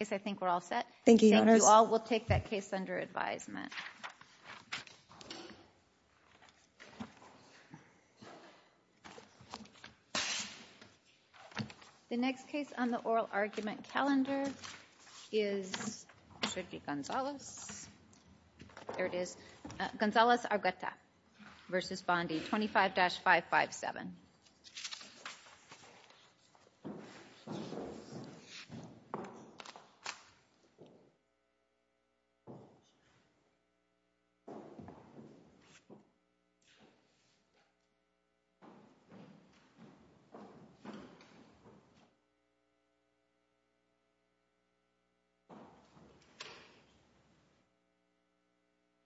I think we're all set. Thank you. Thank you all. We'll take that case under advisement. The next case on the oral argument calendar is, should be Gonzales. There it is. Gonzales Argueta v. Bondi, 25-557.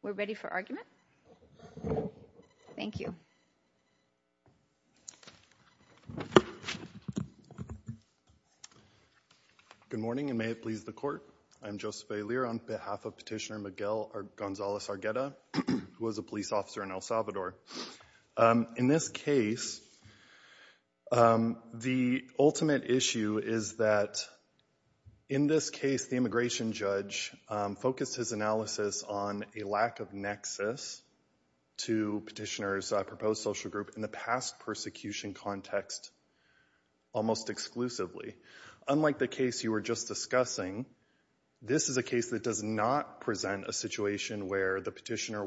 We're ready for argument. Thank you. Good morning and may it please the court. I'm Joseph A. Lear on behalf of Petitioner Miguel Gonzales Argueta, who was a police officer in El Salvador. In this case, the ultimate issue is that in this case the immigration judge focused his analysis on a lack of nexus to Petitioner's proposed social group in the past persecution context almost exclusively. Unlike the case you were just discussing, this is a case that does not present a situation where the petitioner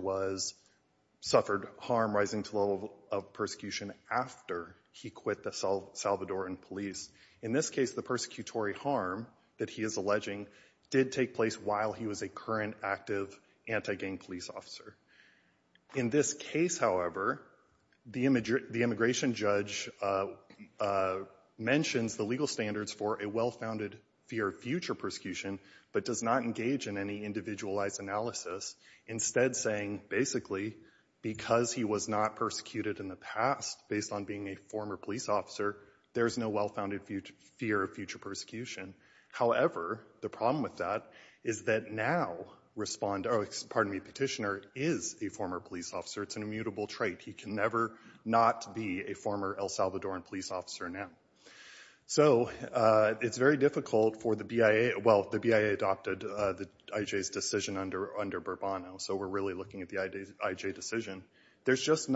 suffered harm rising to the level of persecution after he quit El Salvadoran police. In this case, the persecutory harm that he is alleging did take place while he was a current active anti-gang police officer. In this case, however, the immigration judge mentions the legal standards for a well-founded fear of future persecution, but does not engage in any individualized analysis, instead saying basically, because he was not persecuted in the past based on being a former police officer, there's no well-founded fear of future persecution. However, the problem with that is that now Petitioner is a former police officer. It's an immutable trait. He can never not be a former El Salvadoran police officer now. So it's very difficult for the BIA. Well, the BIA adopted the IJ's decision under Burbano, so we're really looking at the IJ decision. There's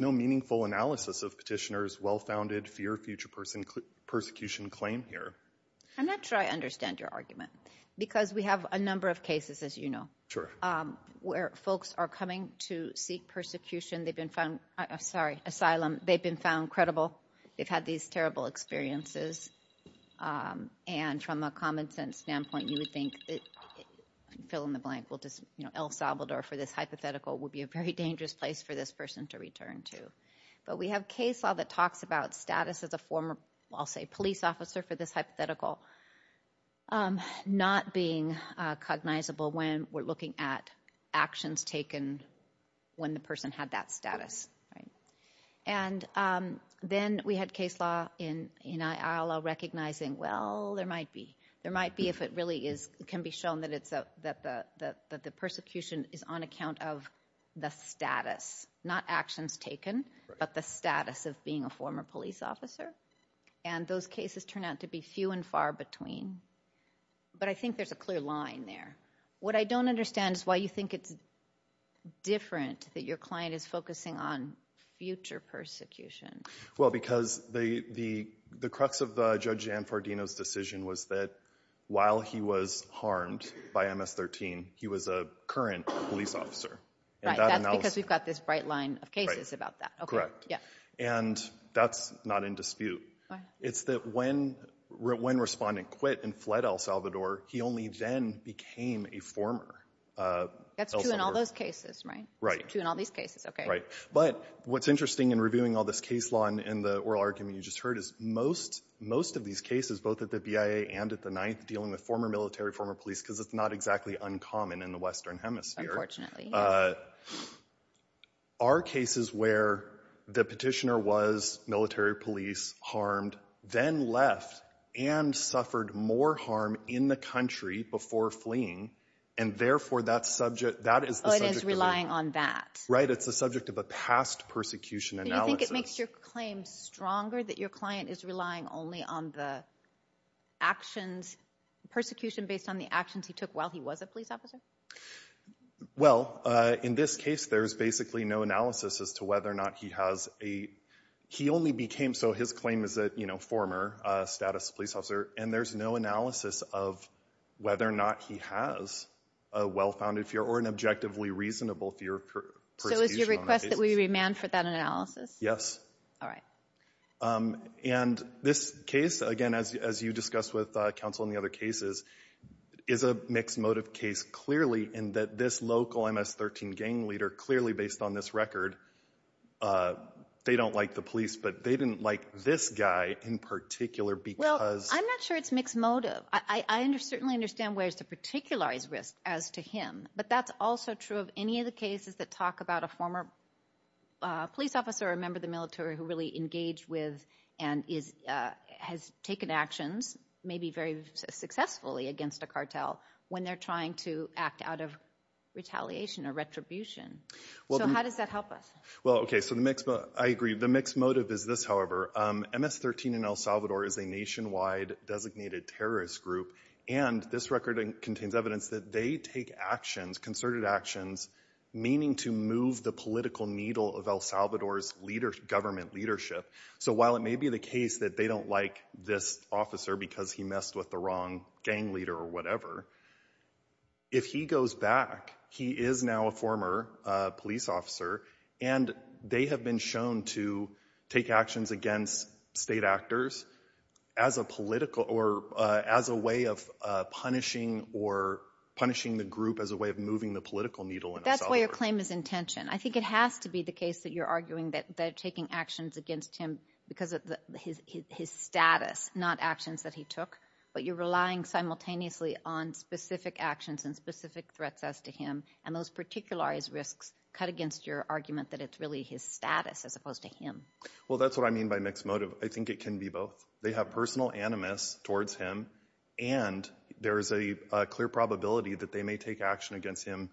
no meaningful analysis of Petitioner's well-founded fear of future persecution claim here. I'm not sure I understand your argument, because we have a number of cases, as you know, where folks are coming to seek persecution. They've been found, sorry, asylum. They've been found credible. They've had these terrible experiences. And from a common sense standpoint, you would think, fill in the blank, El Salvador for this hypothetical would be a very dangerous place for this person to return to. But we have a case law that talks about status as a former, I'll say, police officer for this hypothetical, not being cognizable when we're looking at actions taken when the person had that status. And then we had case law in ILL recognizing, well, there might be. There might be if it really can be shown that the persecution is on account of the status, not actions taken, but the status of being a former police officer. And those cases turn out to be few and far between. But I think there's a clear line there. What I don't understand is why you think it's different that your client is focusing on future persecution. Well, because the crux of Judge Gianfardino's decision was that while he was harmed by MS-13, he was a current police officer. Right. That's because we've got this bright line of cases about that. Correct. And that's not in dispute. It's that when Respondent quit and fled El Salvador, he only then became a former. That's true in all those cases, right? Right. True in all these cases. Okay. Right. But what's interesting in reviewing all this case law and the oral argument you just heard is most of these cases, both at the BIA and at the Ninth, dealing with former military, former police, because it's not exactly uncommon in the Western Hemisphere. Unfortunately. Are cases where the petitioner was military police harmed, then left and suffered more harm in the country before fleeing. And therefore, that subject, that is the subject of a- But is relying on that. Right. It's the subject of a past persecution analysis. Do you think it makes your claim stronger that your client is relying only on the actions, persecution based on the actions he took while he was a police officer? Well, in this case, there's basically no analysis as to whether or not he has a- He only became, so his claim is that, you know, former status police officer, and there's no analysis of whether or not he has a well-founded fear or an objectively reasonable fear of persecution on that case. So it's your request that we remand for that analysis? Yes. All right. And this case, again, as you discussed with counsel in the other cases, is a mixed motive case clearly in that this local MS-13 gang leader, clearly based on this record, they don't like the police, but they didn't like this guy in particular because- Well, I'm not sure it's mixed motive. I certainly understand where's the particular risk as to him, but that's also true of any of the cases that talk about a former police officer or a member of the military who really engaged with and has taken actions maybe very successfully against a cartel when they're trying to act out of retaliation or retribution. So how does that help us? Well, okay, so the mixed- I agree. The mixed motive is this, however. MS-13 in El Salvador is a nationwide designated terrorist group, and this record contains evidence that they take actions, concerted actions, meaning to move the political needle of El Salvador's government leadership. So while it may be the case that they don't like this officer because he messed with the wrong gang leader or whatever, if he goes back, he is now a former police officer, and they have been shown to take actions against state actors as a political- or as a way of punishing or punishing the group as a way of moving the political needle in El Salvador. That's why your claim is in tension. I think it has to be the case that you're arguing that they're taking actions against him because of his status, not actions that he took, but you're relying simultaneously on specific actions and specific threats as to him, and those particularized risks cut against your argument that it's really his status as opposed to him. Well, that's what I mean by mixed motive. I think it can be both. They have personal animus towards him, and there is a clear probability that they may take action against him,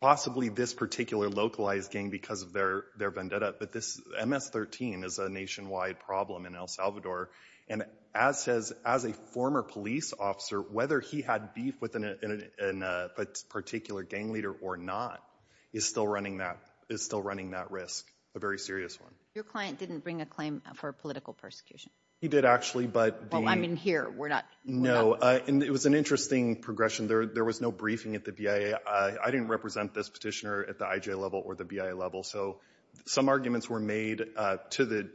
possibly this particular localized gang because of their vendetta, but this MS-13 is a nationwide problem in El Salvador, and as a former police officer, whether he had beef with a particular gang leader or not is still running that risk, a very serious one. Your client didn't bring a claim for political persecution. He did, actually, but... I mean, here, we're not... No, and it was an interesting progression. There was no briefing at the BIA. I didn't represent this petitioner at the IJ level or the BIA level, so some arguments were made to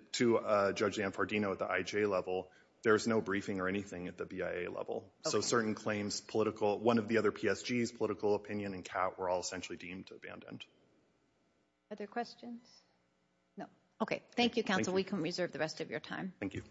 Judge Anfardino at the IJ level. There was no briefing or anything at the BIA level, so certain claims, political... One of the other PSGs, political opinion and cat were all essentially deemed abandoned. Are there questions? No. Okay. Thank you, counsel. We can reserve the rest of your time. Thank you.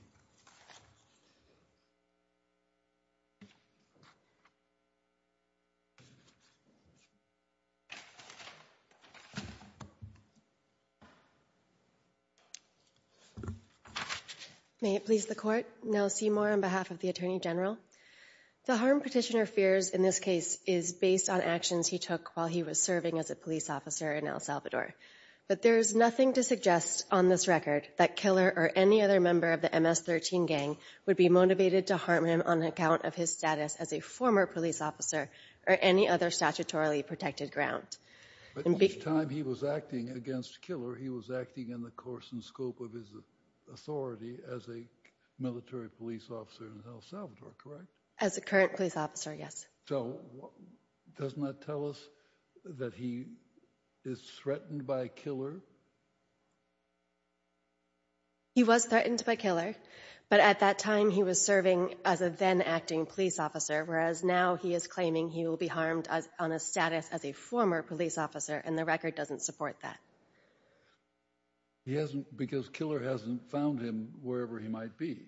May it please the Court. Nell Seymour on behalf of the Attorney General. The harm Petitioner fears in this case is based on actions he took while he was serving as a police officer in El Salvador, but there is nothing to suggest on this record that Killer or any other member of the MS-13 gang would be motivated to harm him on account of his status as a former police officer or any other statutorily protected ground. But at the time he was acting against Killer, he was acting in the course and scope of his authority as a military police officer in El Salvador, correct? As a current police officer, yes. So doesn't that tell us that he is threatened by Killer? He was threatened by Killer, but at that time he was serving as a then acting police officer, whereas now he is claiming he will be harmed on a status as a former police officer and the record doesn't support that. He hasn't because Killer hasn't found him wherever he might be.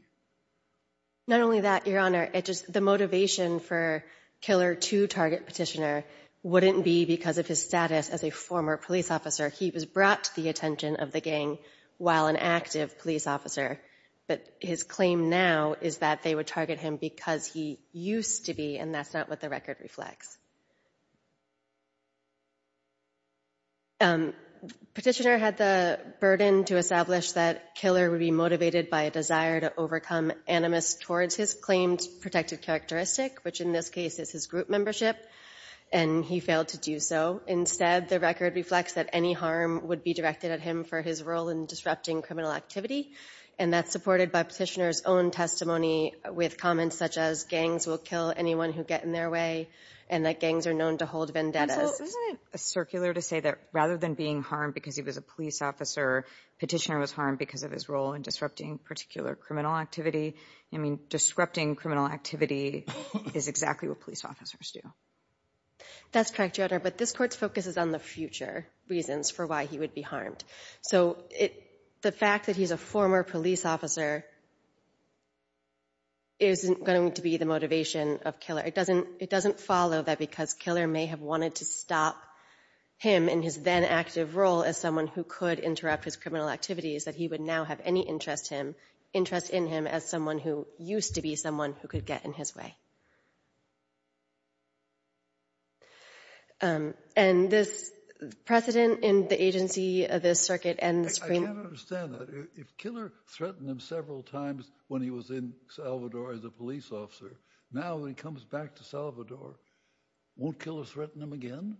Not only that, Your Honor, the motivation for Killer to target Petitioner wouldn't be because of his status as a former police officer. He was brought to the attention of the gang while an active police officer, but his claim now is that they would target him because he used to be and that's not what the record reflects. Petitioner had the burden to establish that Killer would be motivated by a desire to overcome animus towards his claimed protected characteristic, which in this case is his group membership and he failed to do so. Instead, the record reflects that any harm would be directed at him for his role in disrupting criminal activity and that's supported by Petitioner's own testimony with comments such as gangs will kill anyone who get in their way and that gangs are known to hold vendettas. Isn't it circular to say that rather than being harmed because he was a police officer, Petitioner was harmed because of his role in disrupting particular criminal activity? I mean, disrupting criminal activity is exactly what police officers do. That's correct, Your Honor, but this court's focus is on the future reasons for why he would be harmed. So the fact that he's a former police officer isn't going to be the motivation of Killer. It doesn't follow that because Killer may have wanted to stop him in his then active role as someone who could interrupt his criminal activities that he would now have any interest in him as someone who used to be someone who could get in his way. And this precedent in the agency of this circuit and the Supreme Court- I can't understand that. If Killer threatened him several times when he was in Salvador as a police officer, now when he comes back to Salvador, won't Killer threaten him again?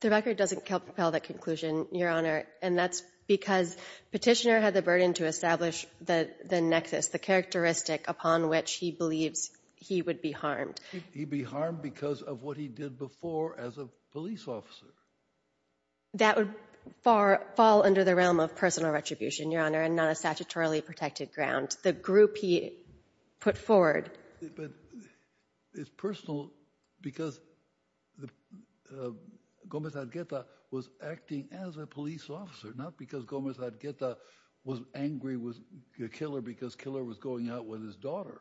The record doesn't propel that conclusion, Your Honor, and that's because Petitioner had the burden to establish the nexus, the characteristic upon which he believes he would be harmed. He'd be harmed because of what he did before as a police officer. That would fall under the realm of personal retribution, Your Honor, and not a statutorily protected ground. The group he put forward- But it's personal because Gomez Argueta was acting as a police officer, not because Gomez Argueta was angry with Killer because Killer was going out with his daughter.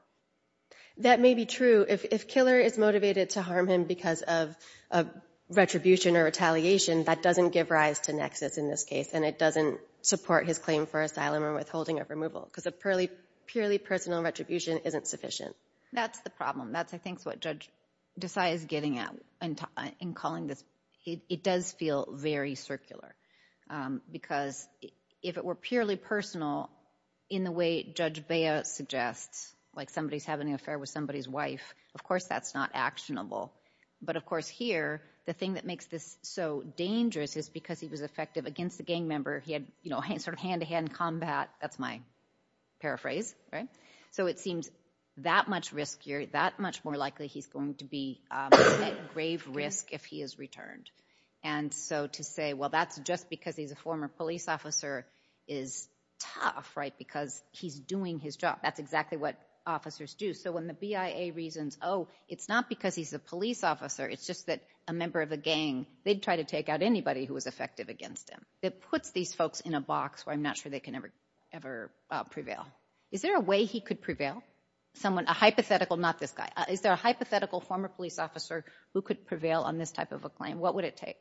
That may be true. If Killer is motivated to harm him because of retribution or retaliation, that doesn't give rise to nexus in this case, and it doesn't support his claim for asylum or withholding of removal because a purely personal retribution isn't sufficient. That's the problem. That's, I think, what Judge Desai is getting at in calling this. It does feel very circular because if it were purely personal in the way Judge Bea suggests, like somebody's having an affair with somebody's wife, of course, that's not actionable. But of course, here, the thing that makes this so dangerous is because he was effective against the gang member. He had sort of hand-to-hand combat. That's my paraphrase, right? So it seems that much riskier, that much more likely he's going to be at grave risk if he is returned. And so to say, well, that's just because he's a former police officer is tough, right? Because he's doing his job. That's exactly what officers do. So when the BIA reasons, oh, it's not because he's a police officer. It's just that a member of a gang, they'd try to take out anybody who was effective against him. That puts these folks in a box where I'm not sure they can ever prevail. Is there a way he could prevail? A hypothetical, not this guy. Is there a hypothetical former police officer who could prevail on this type of a claim? What would it take?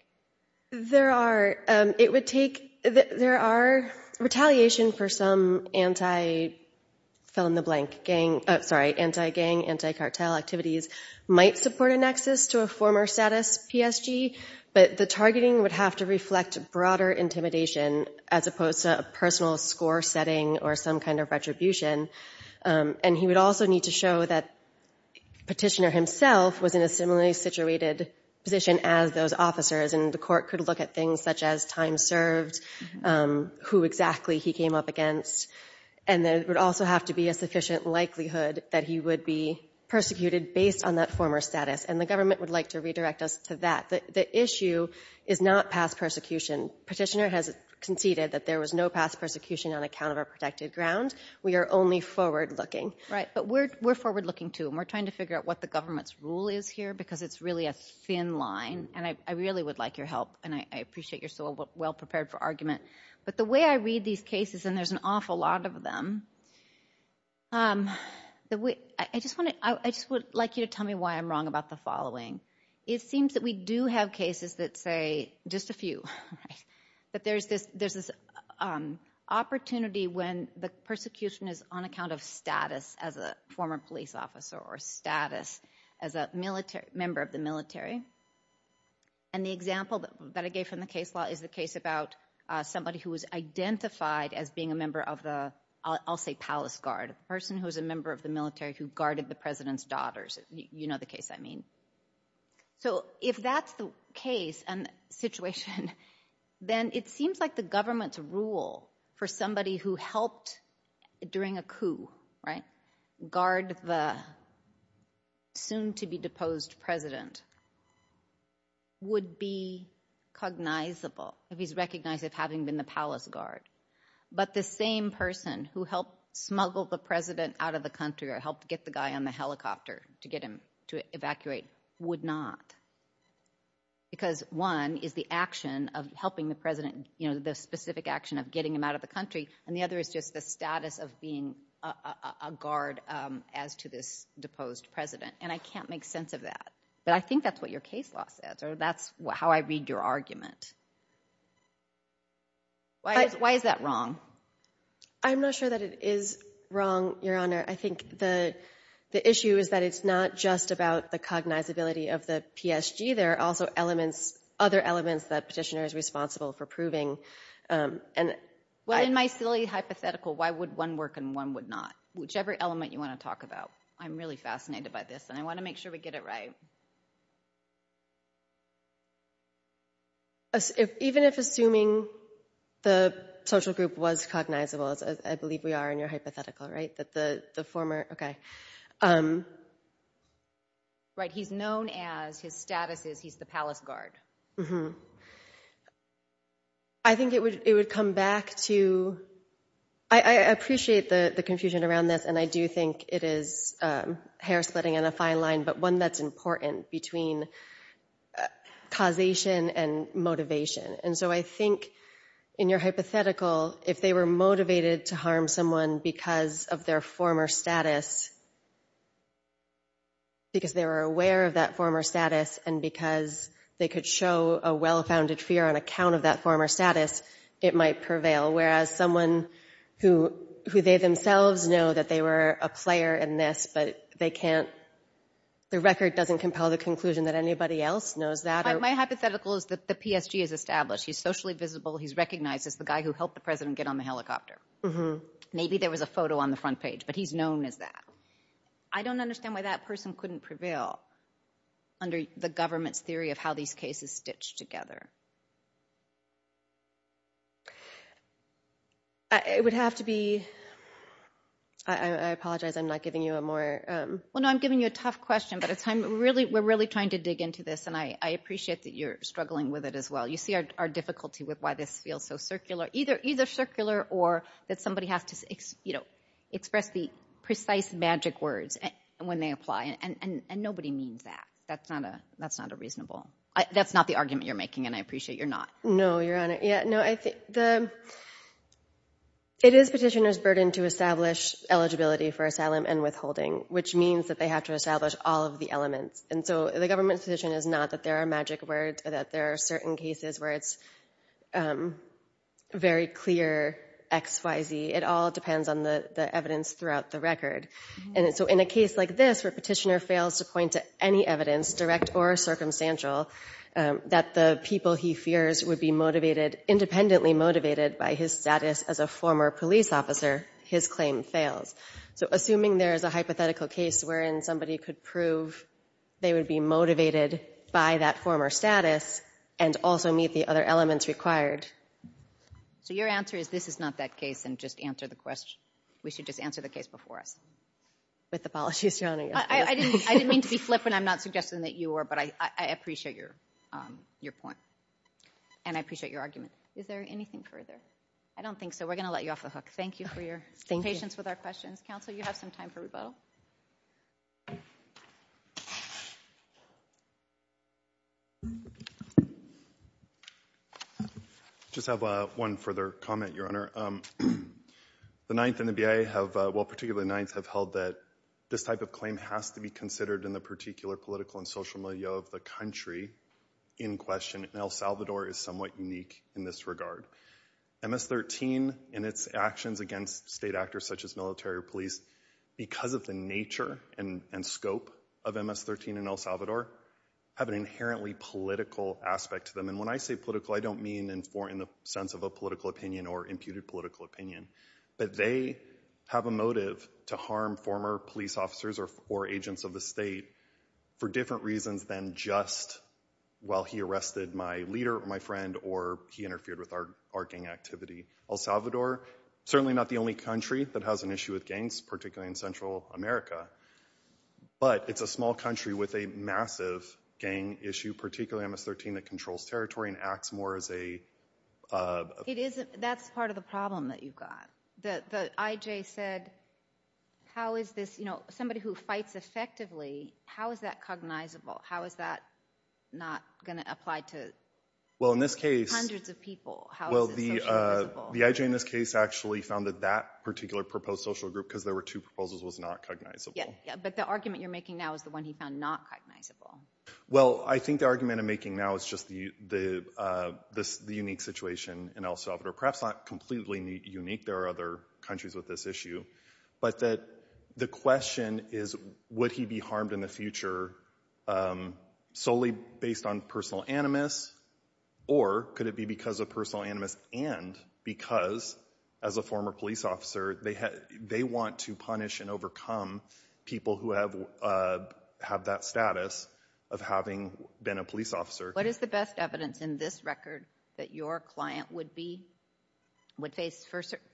There are, it would take, there are retaliation for some anti, fill in the blank, gang, sorry, anti-gang, anti-cartel activities might support a nexus to a former status PSG, but the targeting would have to reflect broader intimidation as opposed to a personal score setting or some kind of retribution. And he would also need to show that Petitioner himself was in a similarly situated position as those officers. And the court could look at things such as time served, who exactly he came up against. And there would also have to be a sufficient likelihood that he would be persecuted based on that former status. And the government would like to redirect us to that. The issue is not past persecution. Petitioner has conceded that there was no past persecution on account of a protected ground. We are only forward-looking. Right, but we're forward-looking too. And we're trying to figure out what the government's rule is here because it's really a thin line. And I really would like your help. And I appreciate you're so well-prepared for argument. But the way I read these cases, and there's an awful lot of them, I just would like you to tell me why I'm wrong about the following. It seems that we do have cases that say, just a few, right? That there's this opportunity when the persecution is on account of status as a former police officer or status as a member of the military. And the example that I gave from the case law is the case about somebody who was identified as being a member of the, I'll say palace guard, a person who was a member of the military who guarded the president's daughters. You know the case I mean. So if that's the case and situation, then it seems like the government's rule for somebody who helped during a coup, right, guard the soon to be deposed president would be cognizable if he's recognized of having been the palace guard. But the same person who helped smuggle the president out of the country or helped get the guy on the helicopter to get him to evacuate would not. Because one is the action of helping the president, you know, the specific action of getting him out of the country. And the other is just the status of being a guard as to this deposed president. And I can't make sense of that. But I think that's what your case law says, or that's how I read your argument. Why is that wrong? I'm not sure that it is wrong, Your Honor. I think the issue is that it's not just about the cognizability of the PSG. There are also elements, other elements that petitioner is responsible for proving. Well, in my silly hypothetical, why would one work and one would not? Whichever element you want to talk about. I'm really fascinated by this, and I want to make sure we get it right. Even if assuming the social group was cognizable, I believe we are in your hypothetical, right? That the former, okay. Right, he's known as, his status is he's the palace guard. I think it would come back to, I appreciate the confusion around this, and I do think it is hair splitting on a fine line, but one that's important between causation and motivation. And so I think in your hypothetical, if they were motivated to harm someone because of their former status, because they were aware of that former status, and because they could show a well-founded fear on account of that former status, it might prevail. Whereas someone who they themselves know that they were a player in this, but they can't, the record doesn't compel the conclusion that anybody else knows that. My hypothetical is that the PSG is established. He's socially visible. He's recognized as the guy who helped the president get on the helicopter. Maybe there was a photo on the front page, but he's known as that. I don't understand why that person couldn't prevail under the government's theory of how these cases stitch together. I would have to be... I apologize. I'm not giving you a more... Well, no, I'm giving you a tough question, but we're really trying to dig into this, and I appreciate that you're struggling with it as well. You see our difficulty with why this feels so circular, either circular or that somebody has to express the precise magic words when they apply, and nobody means that. That's not a reasonable... That's not the argument you're making, and I appreciate you're not. No, Your Honor. Yeah, no. I think it is petitioner's burden to establish eligibility for asylum and withholding, which means that they have to establish all of the elements. And so the government's position is not that there are magic words, that there are certain cases where it's very clear X, Y, Z. It all depends on the evidence throughout the record. And so in a case like this, where a petitioner fails to point to any evidence, direct or circumstantial, that the people he fears independently motivated by his status as a former police officer, his claim fails. So assuming there is a hypothetical case wherein somebody could prove they would be motivated by that former status and also meet the other elements required. So your answer is this is not that case, and just answer the question. We should just answer the case before us. With apologies, Your Honor. I didn't mean to be flippant. I'm not suggesting that you are, but I appreciate your point. And I appreciate your argument. Is there anything further? I don't think so. We're going to let you off the hook. Thank you for your patience with our questions. Counsel, you have some time for rebuttal. I just have one further comment, Your Honor. The Ninth and the BIA have, well, particularly the Ninth, have held that this type of claim has to be considered in the particular political and social milieu of the country in question. And El Salvador is somewhat unique in this regard. MS-13 and its actions against state actors such as military or police, because of the nature and scope of MS-13 in El Salvador, have an inherently political aspect to them. And when I say political, I don't mean in the sense of a political opinion or imputed political opinion. But they have a motive to harm former police officers or agents of the state for different reasons than just, well, he arrested my leader, my friend, or he interfered with our gang activity. El Salvador, certainly not the only country that has an issue with gangs, particularly in Central America. But it's a small country with a massive gang issue, particularly MS-13 that controls territory and acts more as a... It isn't. That's part of the problem that you've got. The IJ said, how is this, you know, somebody who fights effectively, how is that cognizable? How is that not going to apply to... Well, in this case... Hundreds of people, how is it socializable? The IJ in this case actually found that that particular proposed social group, because there were two proposals, was not cognizable. But the argument you're making now is the one he found not cognizable. Well, I think the argument I'm making now is just the unique situation in El Salvador, perhaps not completely unique. There are other countries with this issue. But the question is, would he be harmed in the future solely based on personal animus? Or could it be because of personal animus and because, as a former police officer, they want to punish and overcome people who have that status of having been a police officer. What is the best evidence in this record that your client would be... would face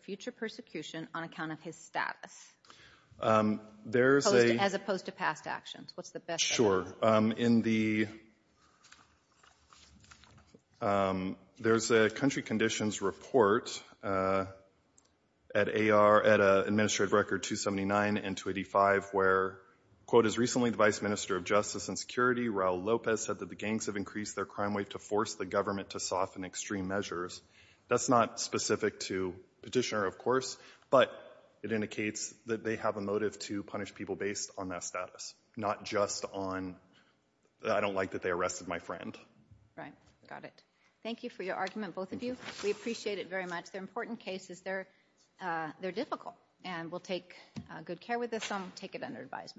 future persecution on account of his status? There's a... As opposed to past actions. What's the best... Sure. In the... There's a country conditions report at Administrative Record 279 and 285 where, quote, as recently the vice minister of justice and security, Raul Lopez, said that the gangs have increased their crime rate to force the government to soften extreme measures. That's not specific to Petitioner, of course, but it indicates that they have a motive to punish people based on that status, not just on... I don't like that they arrested my friend. Right. Got it. Thank you for your argument, both of you. We appreciate it very much. They're important cases. They're... They're difficult and we'll take good care with this and we'll take it under advisement.